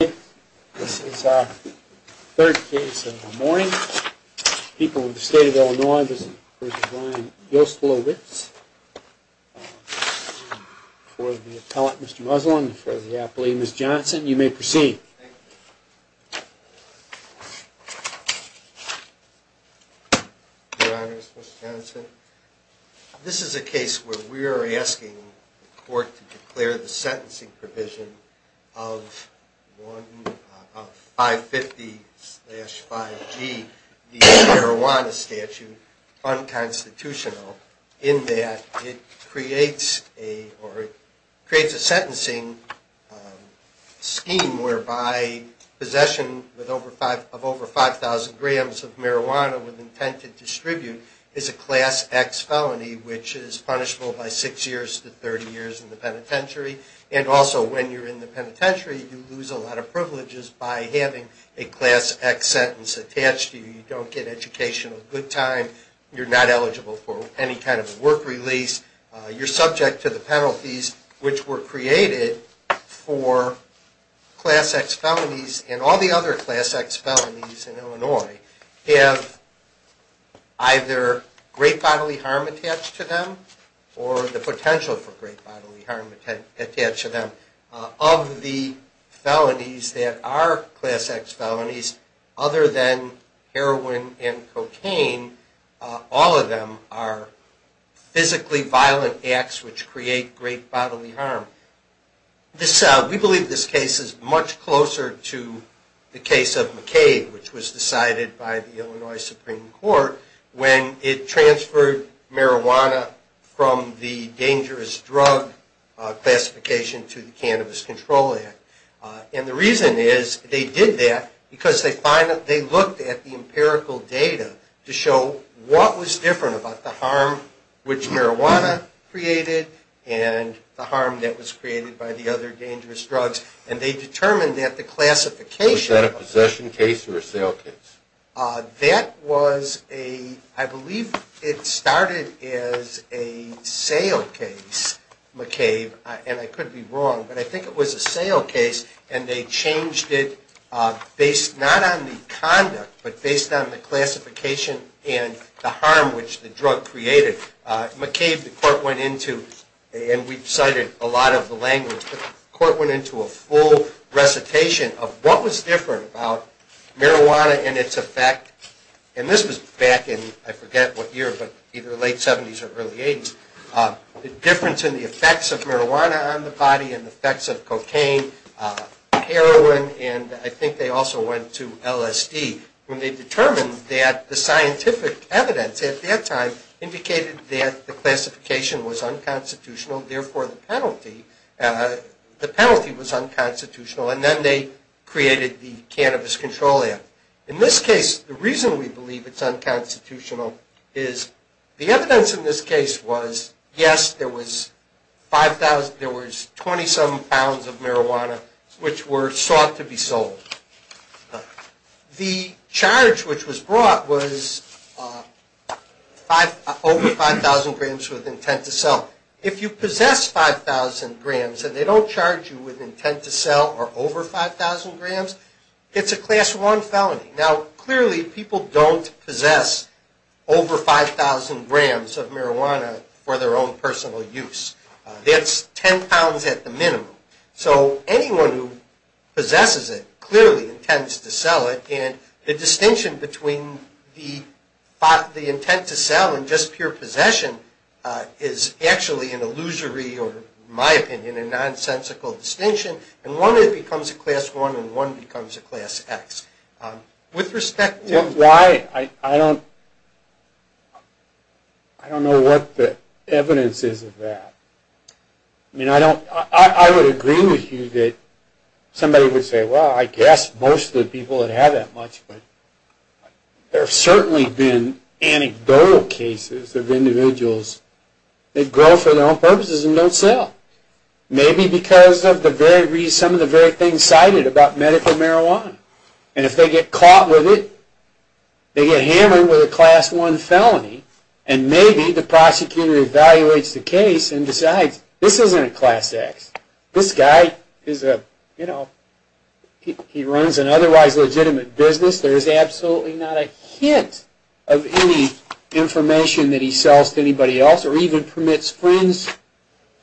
This is our third case of the morning. People of the state of Illinois v. Ryan Yoselowitz for the appellant, Mr. Muslin, for the appellee, Ms. Johnson. You may proceed. Thank you. Your Honors, Mr. Tennyson, this is a case where we are asking the court to declare the sentencing provision of 550-5G, the marijuana statute, unconstitutional in that it creates a sentencing scheme whereby possession of over 5,000 grams of marijuana with intent to distribute is a Class X felony, which is punishable by six years to 30 years in the penitentiary. And also, when you're in the penitentiary, you lose a lot of privileges by having a Class X sentence attached to you. You don't get educational good time. You're not eligible for any kind of work release. You're subject to the penalties which were created for Class X felonies, and all the other Class X felonies in Illinois have either great bodily harm attached to them, or the potential for great bodily harm attached to them. Of the felonies that are Class X felonies, other than heroin and cocaine, all of them are physically violent acts which create great bodily harm. We believe this case is much closer to the case of McCabe, which was decided by the Illinois Supreme Court when it transferred marijuana from the dangerous drug classification to the cannabinoid classification. And the reason is, they did that because they looked at the empirical data to show what was different about the harm which marijuana created and the harm that was created by the other dangerous drugs, and they determined that the classification… Was that a possession case or a sale case? That was a… I believe it started as a sale case, McCabe, and I could be wrong, but I think it was a sale case, and they changed it based not on the conduct, but based on the classification and the harm which the drug created. McCabe, the court went into, and we've cited a lot of the language, but the court went into a full recitation of what was different about marijuana and its effect, and this was back in, I forget what year, but either the late 70s or early 80s, the difference in the effects of marijuana on the body and the effects of cocaine, heroin, and I think they also went to LSD. When they determined that the scientific evidence at that time indicated that the classification was unconstitutional, therefore the penalty was unconstitutional, and then they created the Cannabis Control Act. In this case, the reason we believe it's unconstitutional is the evidence in this case was, yes, there was 5,000… there was 20-some pounds of marijuana which were sought to be sold. The charge which was brought was over 5,000 grams with intent to sell. If you possess 5,000 grams and they don't charge you with intent to sell or over 5,000 grams, it's a Class I felony. Now, clearly, people don't possess over 5,000 grams of marijuana for their own personal use. That's 10 pounds at the minimum. So anyone who possesses it clearly intends to sell it, and the distinction between the intent to sell and just pure possession is actually an illusory or, in my opinion, a nonsensical distinction, and one becomes a Class I and one becomes a Class X. With respect to… Well, why? I don't… I don't know what the evidence is of that. I mean, I don't… I would agree with you that somebody would say, well, I guess most of the people that have that much, but there have certainly been anecdotal cases of individuals that go for their own purposes and don't sell. Maybe because of some of the very things cited about medical marijuana. And if they get caught with it, they get hammered with a Class I felony, and maybe the prosecutor evaluates the case and decides, this isn't a Class X. This guy is a, you know, he runs an otherwise legitimate business. There is absolutely not a hint of any information that he sells to anybody else or even permits friends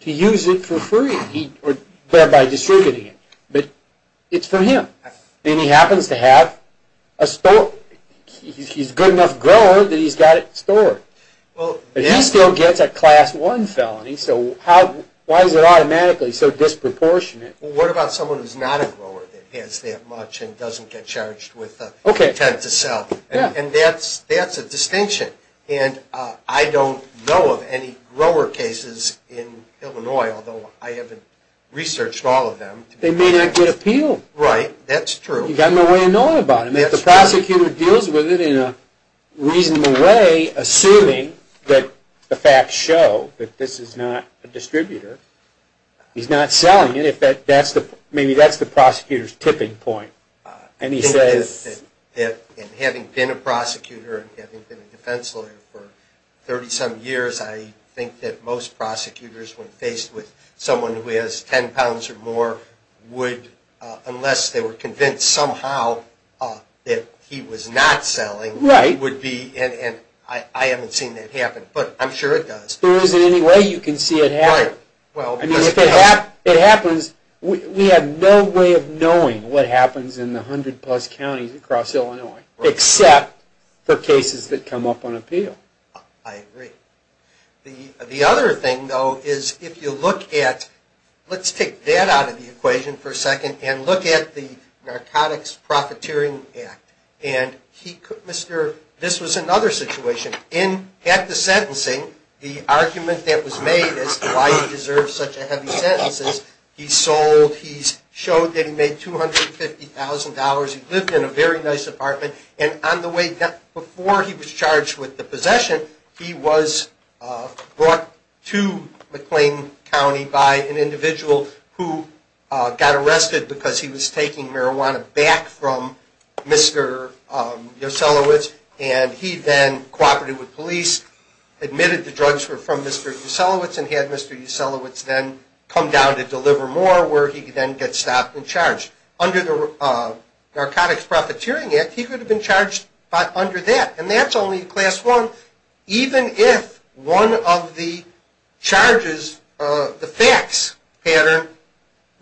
to use it for free or thereby distributing it. But it's for him. And he happens to have a store. He's a good enough grower that he's got it stored. But he still gets a Class I felony, so why is it automatically so disproportionate? Well, what about someone who's not a grower that has that much and doesn't get charged with intent to sell? And that's a distinction. And I don't know of any grower cases in Illinois, although I haven't researched all of them. They may not get appealed. Right. That's true. You've got no way of knowing about them. And if the prosecutor deals with it in a reasonable way, assuming that the facts show that this is not a distributor, he's not selling it, maybe that's the prosecutor's tipping point. And having been a prosecutor and having been a defense lawyer for 30-some years, I think that most prosecutors, when faced with someone who has 10 pounds or more, would, unless they were convinced somehow that he was not selling, would be, and I haven't seen that happen, but I'm sure it does. There isn't any way you can see it happen. Right. In 100-plus counties across Illinois, except for cases that come up on appeal. I agree. The other thing, though, is if you look at, let's take that out of the equation for a second, and look at the Narcotics Profiteering Act. And this was another situation. In, at the sentencing, the argument that was made as to why he deserved such a heavy sentence is he sold, he showed that he made $250,000, he lived in a very nice apartment, and on the way, before he was charged with the possession, he was brought to McLean County by an individual who got arrested because he was taking marijuana back from Mr. Yoselowitz. And he then cooperated with police, admitted the drugs were from Mr. Yoselowitz, and had Mr. Yoselowitz then come down to deliver more, where he could then get stopped and charged. Under the Narcotics Profiteering Act, he could have been charged under that. And that's only in Class I, even if one of the charges, the fax pattern,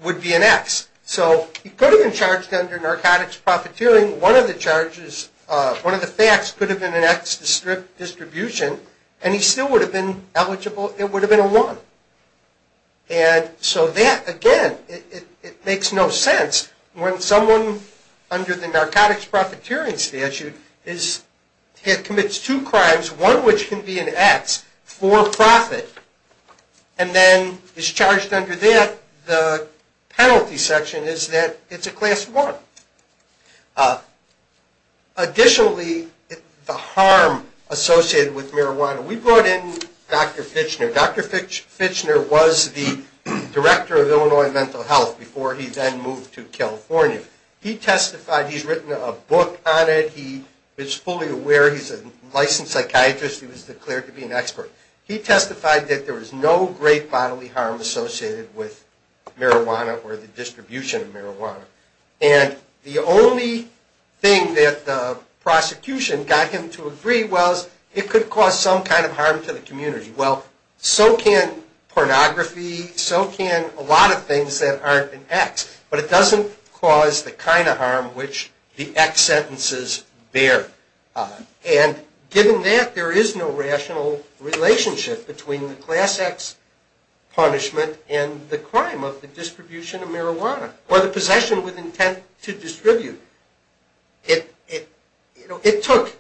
would be an X. So he could have been charged under Narcotics Profiteering. One of the charges, one of the fax could have been an X distribution, and he still would have been eligible, it would have been a one. And so that, again, it makes no sense when someone under the Narcotics Profiteering statute is, commits two crimes, one which can be an X, for profit, and then is charged under that, the penalty section is that it's a Class I. Additionally, the harm associated with marijuana, we brought in Dr. Fitchner. Dr. Fitchner was the Director of Illinois Mental Health before he then moved to California. He testified, he's written a book on it, he is fully aware, he's a licensed psychiatrist, he was declared to be an expert. He testified that there was no great bodily harm associated with marijuana or the distribution of marijuana. And the only thing that the prosecution got him to agree was, it could cause some kind of harm to the community. Well, so can pornography, so can a lot of things that aren't an X. But it doesn't cause the kind of harm which the X sentences bear. And given that, there is no rational relationship between the Class X punishment and the crime of the distribution of marijuana, or the possession with intent to distribute. It took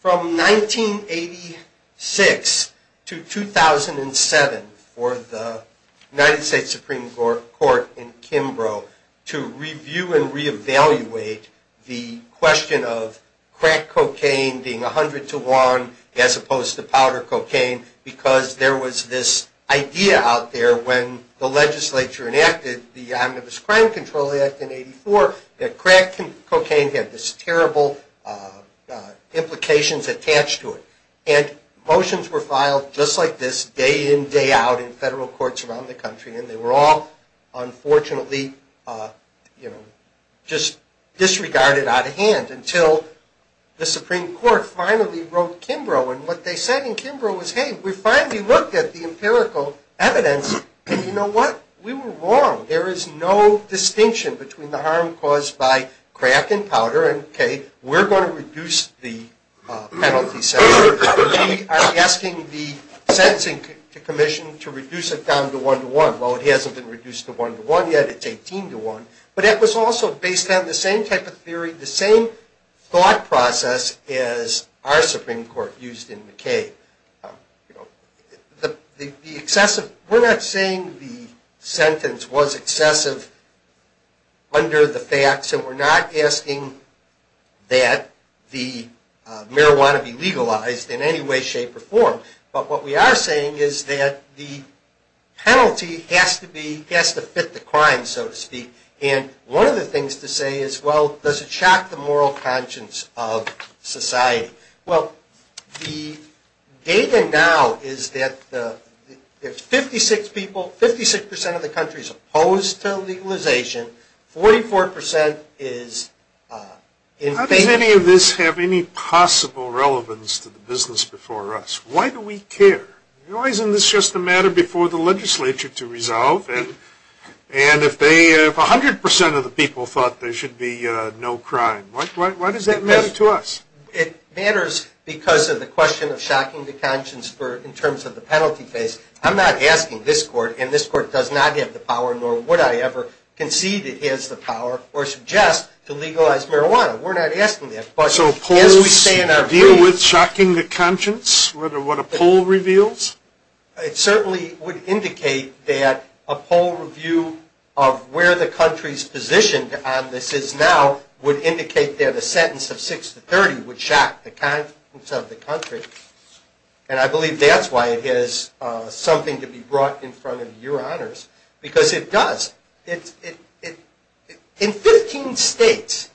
from 1986 to 2007 for the United States Supreme Court in Kimbrough to review and re-evaluate the question of crack cocaine being 100 to 1, as opposed to powder cocaine, because there was this idea out there when the legislature enacted the Omnibus Crime Control Act in 84, that crack cocaine had this terrible implications attached to it. And motions were filed just like this day in, day out in federal courts around the country, and they were all unfortunately just disregarded out of hand until the Supreme Court finally wrote Kimbrough. And what they said in Kimbrough was, hey, we finally looked at the empirical evidence, and you know what, we were wrong. There is no distinction between the harm caused by crack and powder, and okay, we're going to reduce the penalty sentence. We are asking the Sentencing Commission to reduce it down to 1 to 1. Well, it hasn't been reduced to 1 to 1 yet, it's 18 to 1. But that was also based on the same type of theory, the same thought process as our Supreme Court used in McKay. We're not saying the sentence was excessive under the facts, and we're not asking that the marijuana be legalized in any way, shape, or form. But what we are saying is that the penalty has to fit the crime, so to speak. And one of the things to say is, well, does it shock the moral conscience of society? Well, the data now is that 56% of the country is opposed to legalization, 44% is in favor. How does any of this have any possible relevance to the business before us? Why do we care? Isn't this just a matter before the legislature to resolve? And if 100% of the people thought there should be no crime, why does that matter to us? It matters because of the question of shocking the conscience in terms of the penalty case. I'm not asking this court, and this court does not have the power, nor would I ever concede it has the power, or suggest to legalize marijuana. We're not asking that. So polls deal with shocking the conscience? What a poll reveals? It certainly would indicate that a poll review of where the country's position on this is now would indicate that a sentence of 6 to 30 would shock the conscience of the country. And I believe that's why it has something to be brought in front of your honors, because it does. In 15 states,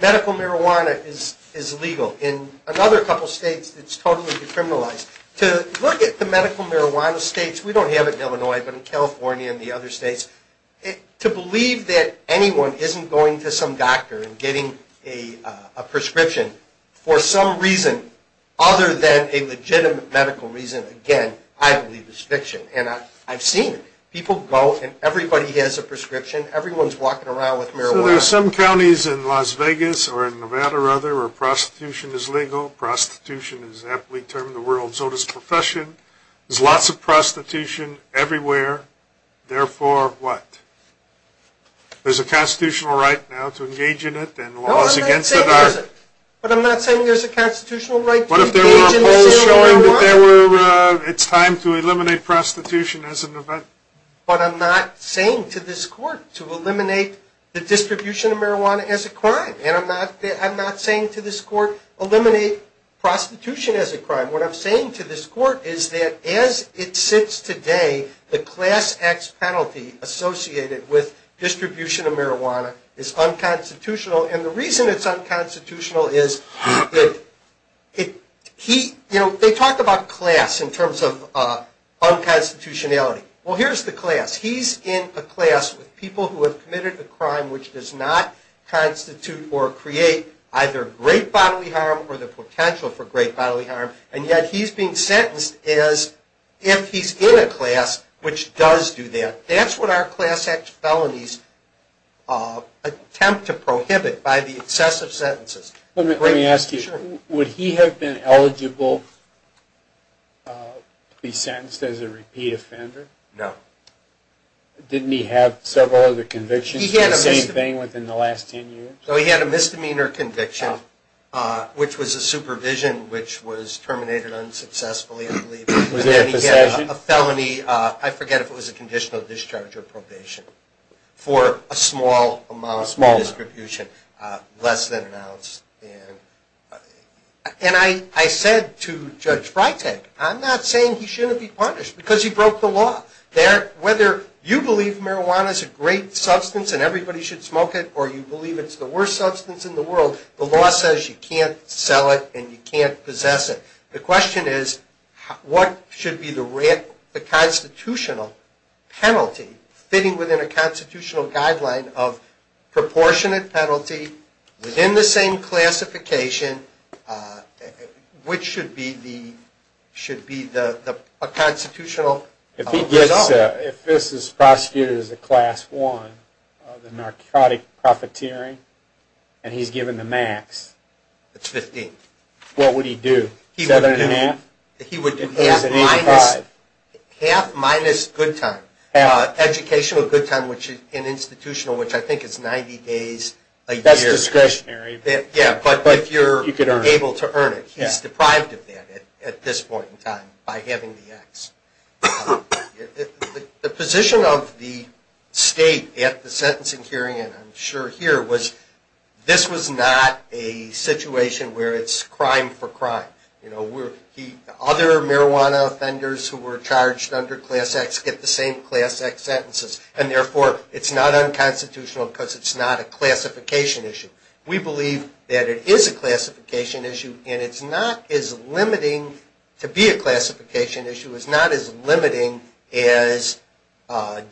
medical marijuana is legal. In another couple states, it's totally decriminalized. To look at the medical marijuana states, we don't have it in Illinois, but in California and the other states, to believe that anyone isn't going to some doctor and getting a prescription for some reason other than a legitimate medical reason, again, I believe is fiction. And I've seen people go, and everybody has a prescription. Everyone's walking around with marijuana. So there are some counties in Las Vegas or in Nevada, rather, where prostitution is legal. Prostitution is aptly termed the world's oldest profession. There's lots of prostitution everywhere. Therefore, what? There's a constitutional right now to engage in it, and laws against it are. No, I'm not saying there isn't. But I'm not saying there's a constitutional right to engage in the sale of marijuana. What if there were polls showing that it's time to eliminate prostitution as an event? But I'm not saying to this court to eliminate the distribution of marijuana as a crime. And I'm not saying to this court, eliminate prostitution as a crime. What I'm saying to this court is that as it sits today, the class X penalty associated with distribution of marijuana is unconstitutional. And the reason it's unconstitutional is it, it, he, you know, they talk about class in terms of unconstitutionality. Well, here's the class. He's in a class with people who have committed a crime which does not constitute or create either great bodily harm or the potential for great bodily harm. And yet he's being sentenced as if he's in a class which does do that. That's what our class X felonies attempt to prohibit by the excessive sentences. Let me ask you, would he have been eligible to be sentenced as a repeat offender? No. Didn't he have several other convictions for the same thing within the last 10 years? So he had a misdemeanor conviction, which was a supervision, which was terminated unsuccessfully, I believe. Was it a possession? And he had a felony, I forget if it was a conditional discharge or probation, for a small amount of distribution, less than an ounce. And I said to Judge Freitag, I'm not saying he shouldn't be punished because he broke the law. Whether you believe marijuana is a great substance and everybody should smoke it or you believe it's the worst substance in the world, the law says you can't sell it and you can't possess it. The question is what should be the constitutional penalty fitting within a constitutional guideline of proportionate penalty within the same classification? Which should be the constitutional result? If this is prosecuted as a Class I, the narcotic profiteering, and he's given the max. It's 15. What would he do? Seven and a half? He would do half minus good time. Educational good time, which is an institutional, which I think is 90 days a year. That's discretionary. Yeah, but if you're able to earn it. He's deprived of that at this point in time by having the X. The position of the state at the sentencing hearing, and I'm sure here, was this was not a situation where it's crime for crime. Other marijuana offenders who were charged under Class X get the same Class X sentences, and therefore it's not unconstitutional because it's not a classification issue. We believe that it is a classification issue, and it's not as limiting to be a classification issue. It's not as limiting as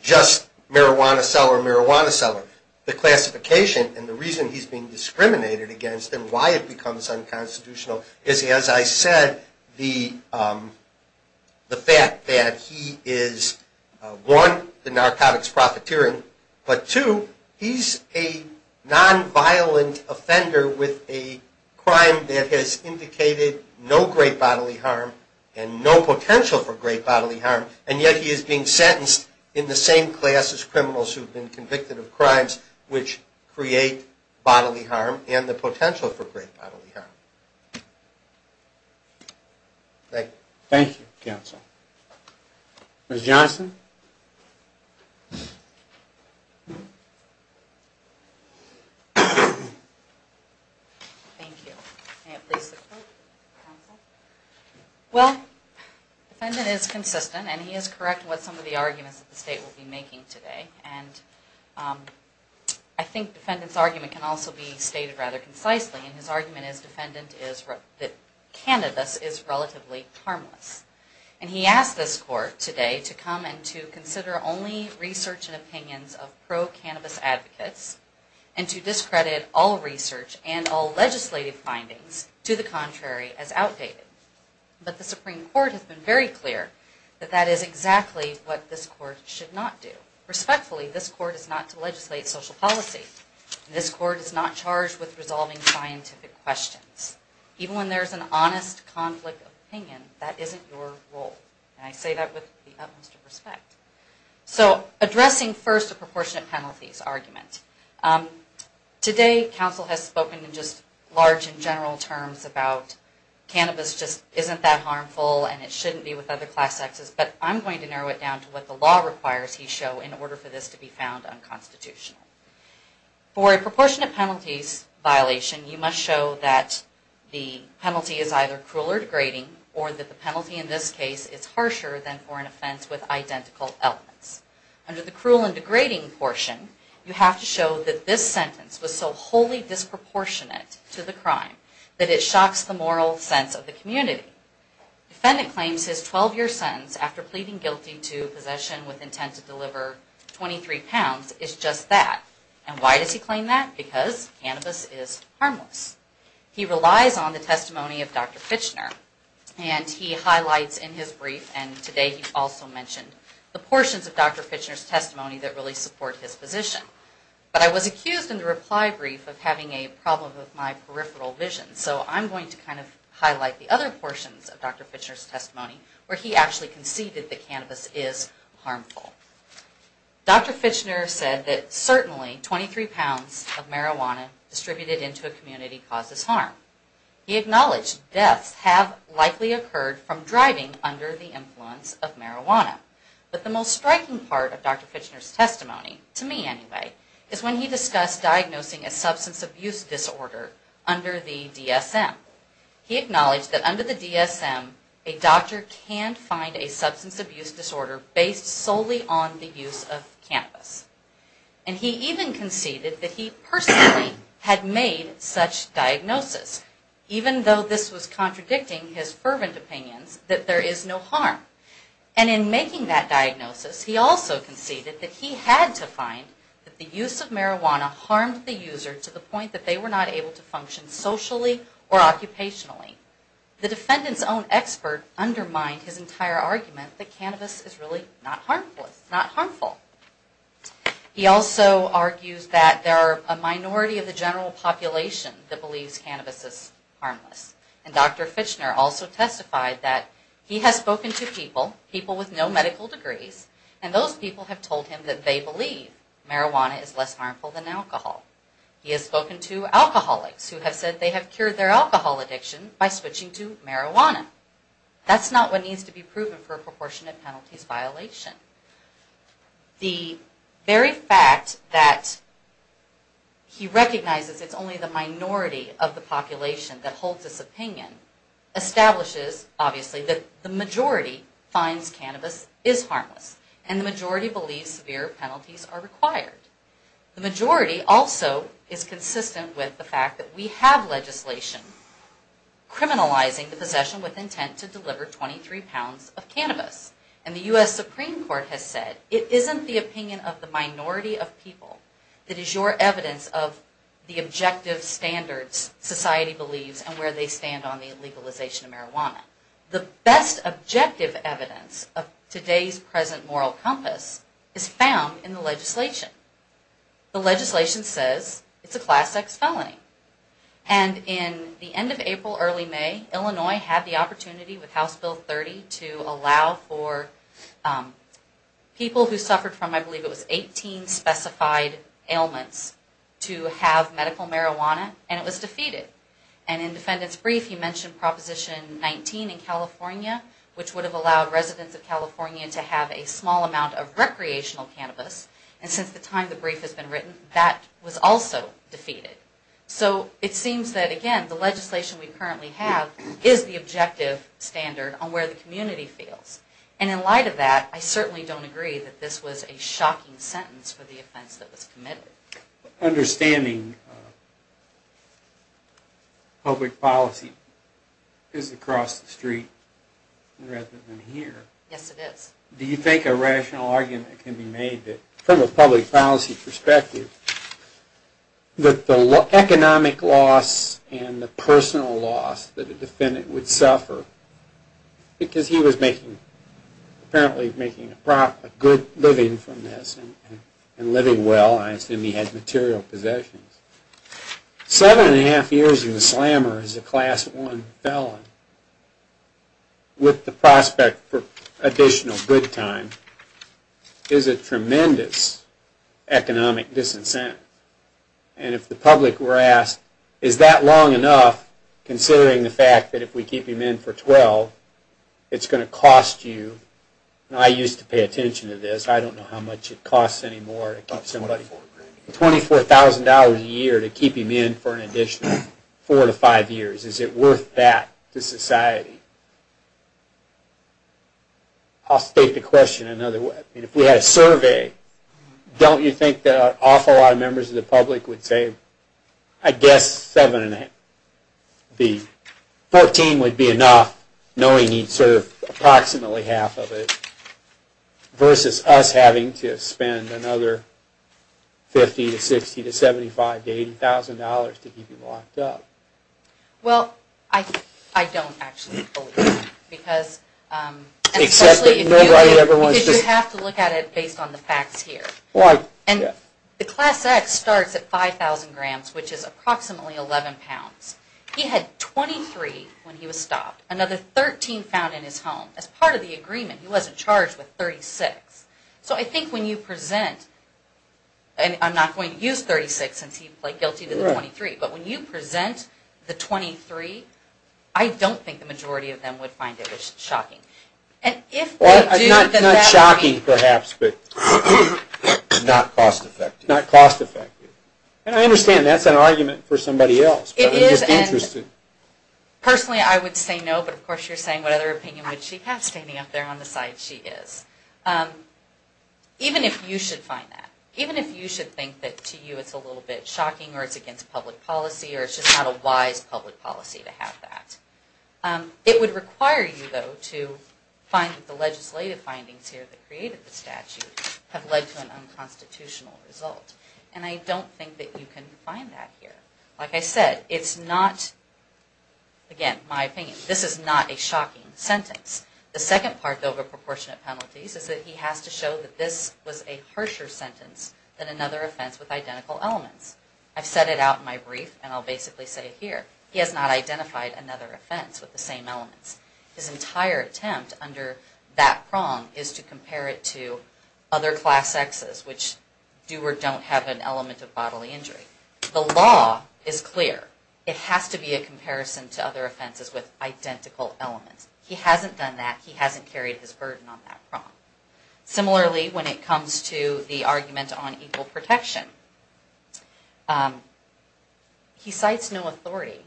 just marijuana seller, marijuana seller. The classification and the reason he's being discriminated against and why it becomes unconstitutional is, as I said, the fact that he is, one, the narcotics profiteering, but two, he's a nonviolent offender with a crime that has indicated no great bodily harm and no potential for great bodily harm, and yet he is being sentenced in the same class as criminals who have been convicted of crimes which create bodily harm and the potential for great bodily harm. Thank you. Thank you, counsel. Ms. Johnson? Thank you. May it please the court, counsel? Well, the defendant is consistent, and he is correct in what some of the arguments that the state will be making today, and I think the defendant's argument can also be stated rather concisely, and his argument is the defendant is that cannabis is relatively harmless, and he asked this court today to come and to consider only research and opinions of pro-cannabis advocates and to discredit all research and all legislative findings to the contrary as outdated. But the Supreme Court has been very clear that that is exactly what this court should not do. Respectfully, this court is not to legislate social policy. This court is not charged with resolving scientific questions. Even when there is an honest conflict of opinion, that isn't your role, and I say that with the utmost respect. So, addressing first the proportionate penalties argument. Today, counsel has spoken in just large and general terms about cannabis just isn't that harmful and it shouldn't be with other class sexes, but I'm going to narrow it down to what the law requires he show in order for this to be found unconstitutional. For a proportionate penalties violation, you must show that the penalty is either cruel or degrading, or that the penalty in this case is harsher than for an offense with identical elements. Under the cruel and degrading portion, you have to show that this sentence was so wholly disproportionate to the crime that it shocks the moral sense of the community. Defendant claims his 12-year sentence after pleading guilty to possession with intent to deliver 23 pounds is just that. And why does he claim that? Because cannabis is harmless. He relies on the testimony of Dr. Fitchner, and he highlights in his brief, and today he also mentioned, the portions of Dr. Fitchner's testimony that really support his position. But I was accused in the reply brief of having a problem with my peripheral vision, so I'm going to kind of highlight the other portions of Dr. Fitchner's testimony where he actually conceded that cannabis is harmful. Dr. Fitchner said that certainly 23 pounds of marijuana distributed into a community causes harm. He acknowledged deaths have likely occurred from driving under the influence of marijuana. But the most striking part of Dr. Fitchner's testimony, to me anyway, is when he discussed diagnosing a substance abuse disorder under the DSM. He acknowledged that under the DSM, a doctor can find a substance abuse disorder based solely on the use of cannabis. And he even conceded that he personally had made such diagnosis, even though this was contradicting his fervent opinions that there is no harm. And in making that diagnosis, he also conceded that he had to find that the use of marijuana harmed the user to the point that they were not able to function socially or occupationally. The defendant's own expert undermined his entire argument that cannabis is really not harmful. He also argues that there are a minority of the general population that believes cannabis is harmless. And Dr. Fitchner also testified that he has spoken to people, people with no medical degrees, and those people have told him that they believe marijuana is less harmful than alcohol. He has spoken to alcoholics who have said they have cured their alcohol addiction by switching to marijuana. That's not what needs to be proven for a proportionate penalties violation. The very fact that he recognizes it's only the minority of the population that holds this opinion, establishes, obviously, that the majority finds cannabis is harmless. And the majority believes severe penalties are required. The majority also is consistent with the fact that we have legislation criminalizing the possession with intent to deliver 23 pounds of cannabis. And the U.S. Supreme Court has said it isn't the opinion of the minority of people that is your evidence of the objective standards society believes and where they stand on the legalization of marijuana. The best objective evidence of today's present moral compass is found in the legislation. The legislation says it's a class X felony. And in the end of April, early May, Illinois had the opportunity with House Bill 30 to allow for people who suffered from, I believe it was 18 specified ailments, to have medical marijuana and it was defeated. And in the defendant's brief, he mentioned Proposition 19 in California, which would have allowed residents of California to have a small amount of recreational cannabis. And since the time the brief has been written, that was also defeated. So it seems that, again, the legislation we currently have is the objective standard on where the community feels. And in light of that, I certainly don't agree that this was a shocking sentence for the offense that was committed. Understanding public policy is across the street rather than here. Yes, it is. Do you think a rational argument can be made from a public policy perspective that the economic loss and the personal loss that a defendant would suffer, because he was apparently making a good living from this and living well, I assume he had material possessions. Seven and a half years in the slammer as a Class I felon with the prospect for additional good time is a tremendous economic disincentive. And if the public were asked, is that long enough considering the fact that if we keep him in for 12, it's going to cost you, and I used to pay attention to this, I don't know how much it costs anymore to keep somebody, $24,000 a year to keep him in for an additional four to five years. Is it worth that to society? I'll state the question another way. If we had a survey, don't you think that an awful lot of members of the public would say, I guess seven and a half. Fourteen would be enough, knowing he'd serve approximately half of it, versus us having to spend another $50,000 to $60,000 to $75,000 to $80,000 to keep him locked up? Well, I don't actually believe that. Because you have to look at it based on the facts here. The Class X starts at 5,000 grams, which is approximately 11 pounds. He had 23 when he was stopped, another 13 found in his home. As part of the agreement, he wasn't charged with 36. So I think when you present, and I'm not going to use 36, since he played guilty to the 23, but when you present the 23, I don't think the majority of them would find it shocking. Not shocking, perhaps, but not cost effective. And I understand that's an argument for somebody else, but I'm just interested. Personally, I would say no, but of course you're saying, what other opinion would she have standing up there on the side she is? Even if you should find that. Even if you should think that, to you, it's a little bit shocking, or it's against public policy, or it's just not a wise public policy to have that. It would require you, though, to find that the legislative findings here that created the statute have led to an unconstitutional result. And I don't think that you can find that here. Like I said, it's not, again, my opinion, this is not a shocking sentence. The second part, though, of the proportionate penalties, is that he has to show that this was a harsher sentence than another offense with identical elements. I've said it out in my brief, and I'll basically say it here. He has not identified another offense with the same elements. His entire attempt under that prong is to compare it to other Class X's, which do or don't have an element of bodily injury. The law is clear. It has to be a comparison to other offenses with identical elements. He hasn't done that. He hasn't carried his burden on that prong. Similarly, when it comes to the argument on equal protection, he cites no authority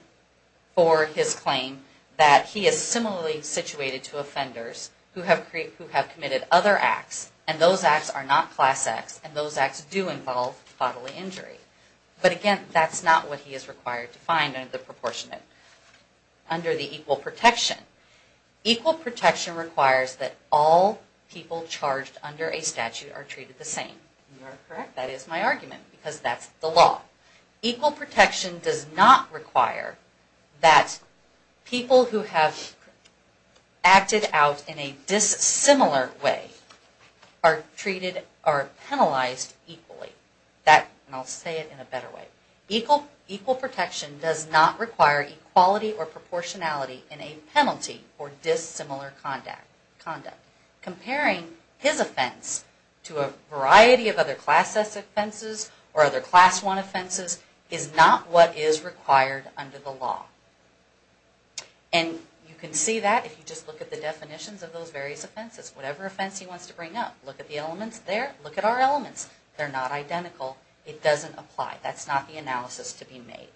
for his claim that he is similarly situated to offenders who have committed other acts, and those acts are not Class X, and those acts do involve bodily injury. But again, that's not what he is required to find under the proportionate, under the equal protection. Equal protection requires that all people charged under a statute are treated the same. Am I correct? That is my argument, because that's the law. Equal protection does not require that people who have acted out in a dissimilar way are treated or penalized equally. And I'll say it in a better way. Equal protection does not require equality or proportionality in a penalty for dissimilar conduct. Comparing his offense to a variety of other Class S offenses or other Class I offenses is not what is required under the law. And you can see that if you just look at the definitions of those various offenses. Whatever offense he wants to bring up, look at the elements there. Look at our elements. They're not identical. It doesn't apply. That's not the analysis to be made.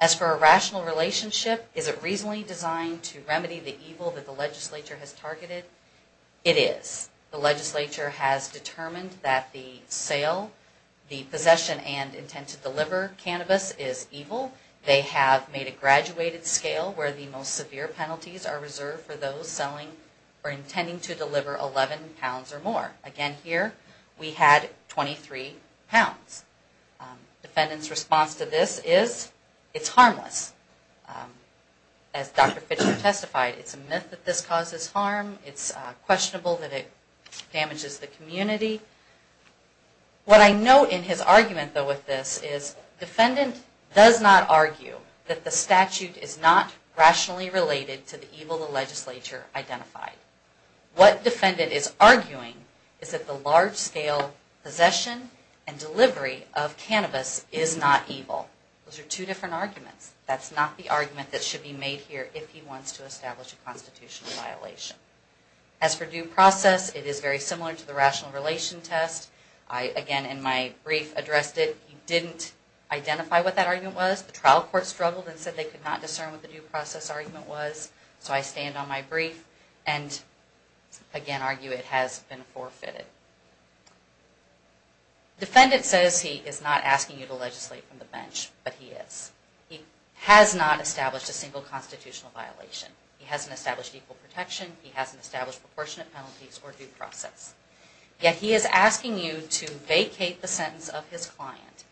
As for a rational relationship, is it reasonably designed to remedy the evil that the legislature has targeted? It is. The legislature has determined that the sale, the possession, and intent to deliver cannabis is evil. They have made a graduated scale where the most severe penalties are reserved for those selling or intending to deliver 11 pounds or more. Again, here we had 23 pounds. Defendant's response to this is, it's harmless. As Dr. Fischer testified, it's a myth that this causes harm. It's questionable that it damages the community. What I note in his argument, though, with this is defendant does not argue that the statute is not rationally related to the evil the legislature identified. What defendant is arguing is that the large scale possession and delivery of cannabis is not evil. Those are two different arguments. That's not the argument that should be made here if he wants to establish a constitutional violation. As for due process, it is very similar to the rational relation test. I, again, in my brief addressed it. He didn't identify what that argument was. The trial court struggled and said they could not discern what the due process argument was. So I stand on my brief and, again, argue it has been forfeited. Defendant says he is not asking you to legislate from the bench, but he is. He has not established a single constitutional violation. He hasn't established equal protection. He hasn't established proportionate penalties or due process. Yet he is asking you to vacate the sentence of his client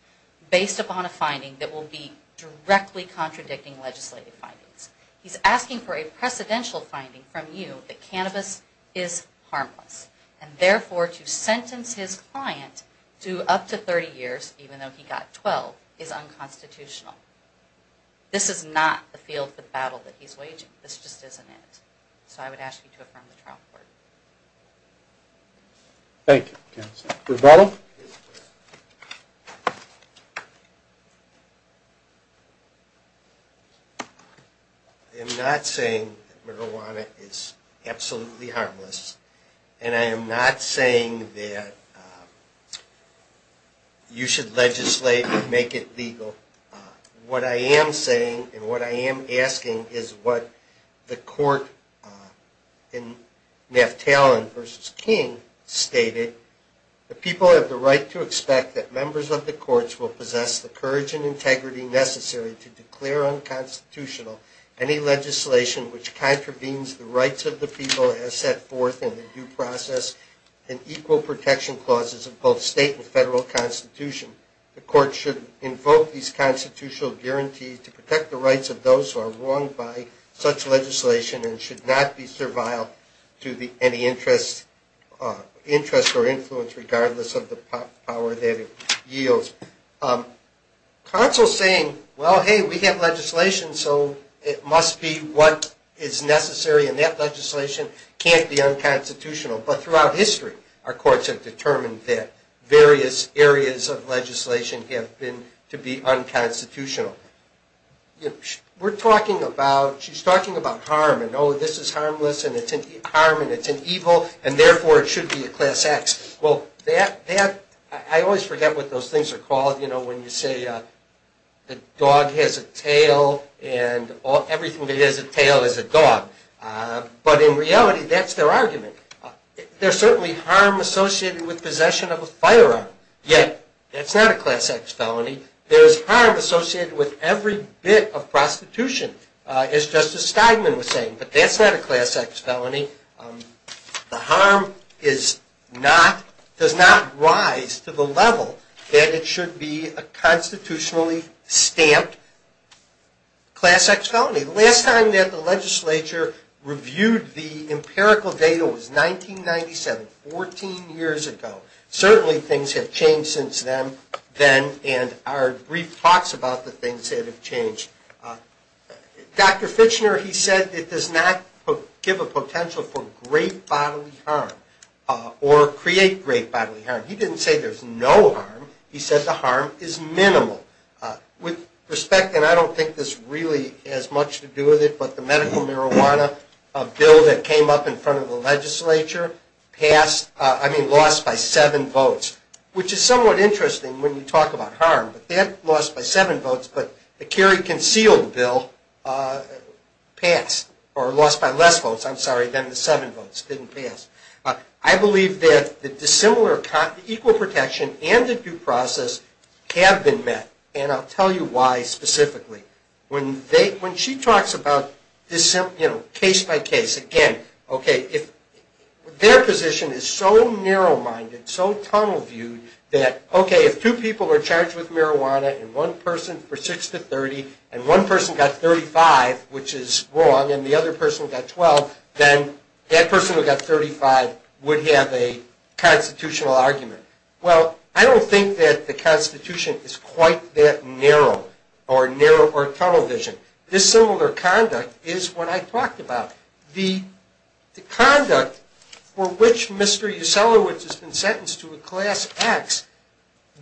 based upon a finding that will be directly contradicting legislative findings. He's asking for a precedential finding from you that cannabis is harmless. And, therefore, to sentence his client to up to 30 years, even though he got 12, is unconstitutional. This is not the field of battle that he's waging. This just isn't it. So I would ask you to affirm the trial court. Thank you. Rebuttal. I am not saying that marijuana is absolutely harmless. And I am not saying that you should legislate and make it legal. What I am saying and what I am asking is what the court in Naftalin v. King stated. The people have the right to expect that members of the courts will possess the courage and integrity necessary to declare unconstitutional any legislation which contravenes the rights of the people as set forth in the due process and equal protection clauses of both state and federal constitution. The court should invoke these constitutional guarantees to protect the rights of those who are wronged by such legislation and should not be servile to any interest or influence regardless of the power that it yields. Counsel saying, well, hey, we have legislation, so it must be what is necessary and that legislation can't be unconstitutional. But throughout history, our courts have determined that various areas of legislation have been to be unconstitutional. We're talking about, she's talking about harm and, oh, this is harmless and it's harm and it's an evil and therefore it should be a class X. Well, that, I always forget what those things are called, you know, when you say the dog has a tail and everything that has a tail is a dog. But in reality, that's their argument. There's certainly harm associated with possession of a firearm. Yet, that's not a class X felony. There's harm associated with every bit of prostitution, as Justice Steigman was saying. But that's not a class X felony. The harm is not, does not rise to the level that it should be a constitutionally stamped class X felony. The last time that the legislature reviewed the empirical data was 1997, 14 years ago. Certainly things have changed since then and our brief talks about the things that have changed. Dr. Fitchner, he said it does not give a potential for great bodily harm or create great bodily harm. He didn't say there's no harm. He said the harm is minimal. With respect, and I don't think this really has much to do with it, but the medical marijuana bill that came up in front of the legislature passed, I mean lost by seven votes, which is somewhat interesting when you talk about harm. But that lost by seven votes, but the carry concealed bill passed, or lost by less votes, I'm sorry, than the seven votes, didn't pass. I believe that the dissimilar, equal protection and the due process have been met, and I'll tell you why specifically. When she talks about case by case, again, okay, if their position is so narrow-minded, so tunnel-viewed that, okay, if two people are charged with marijuana and one person for 6 to 30 and one person got 35, which is wrong, and the other person got 12, then that person who got 35 would have a constitutional argument. Well, I don't think that the Constitution is quite that narrow or tunnel-visioned. Dissimilar conduct is what I talked about. The conduct for which Mr. Yoselowitz has been sentenced to a class X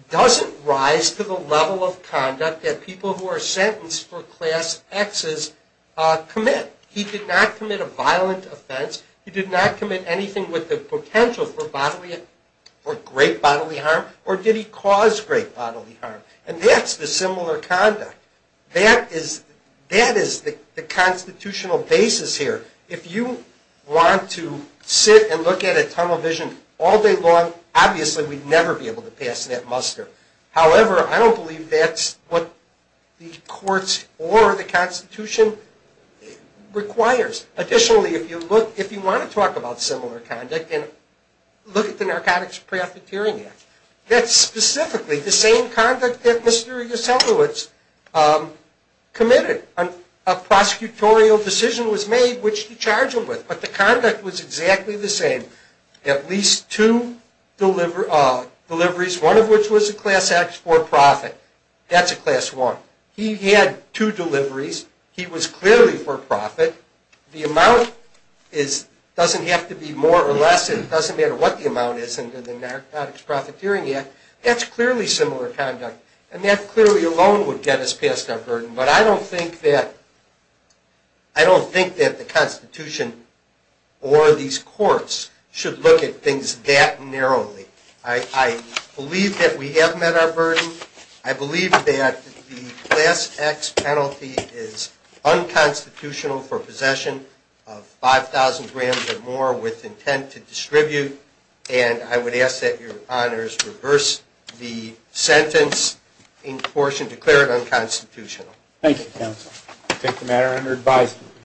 doesn't rise to the level of conduct that people who are sentenced for class Xs commit. He did not commit a violent offense. He did not commit anything with the potential for great bodily harm, or did he cause great bodily harm, and that's dissimilar conduct. That is the constitutional basis here. If you want to sit and look at a tunnel vision all day long, obviously we'd never be able to pass that muster. However, I don't believe that's what the courts or the Constitution requires. Additionally, if you want to talk about similar conduct, look at the Narcotics Profiteering Act. That's specifically the same conduct that Mr. Yoselowitz committed. A prosecutorial decision was made which to charge him with, but the conduct was exactly the same. At least two deliveries, one of which was a class X for profit. That's a class I. He had two deliveries. He was clearly for profit. The amount doesn't have to be more or less. It doesn't matter what the amount is under the Narcotics Profiteering Act. That's clearly similar conduct, and that clearly alone would get us past our burden. But I don't think that the Constitution or these courts should look at things that narrowly. I believe that we have met our burden. I believe that the class X penalty is unconstitutional for possession of 5,000 grams or more with intent to distribute. And I would ask that your honors reverse the sentence in proportion to declare it unconstitutional. Thank you, counsel. I take the matter under advice.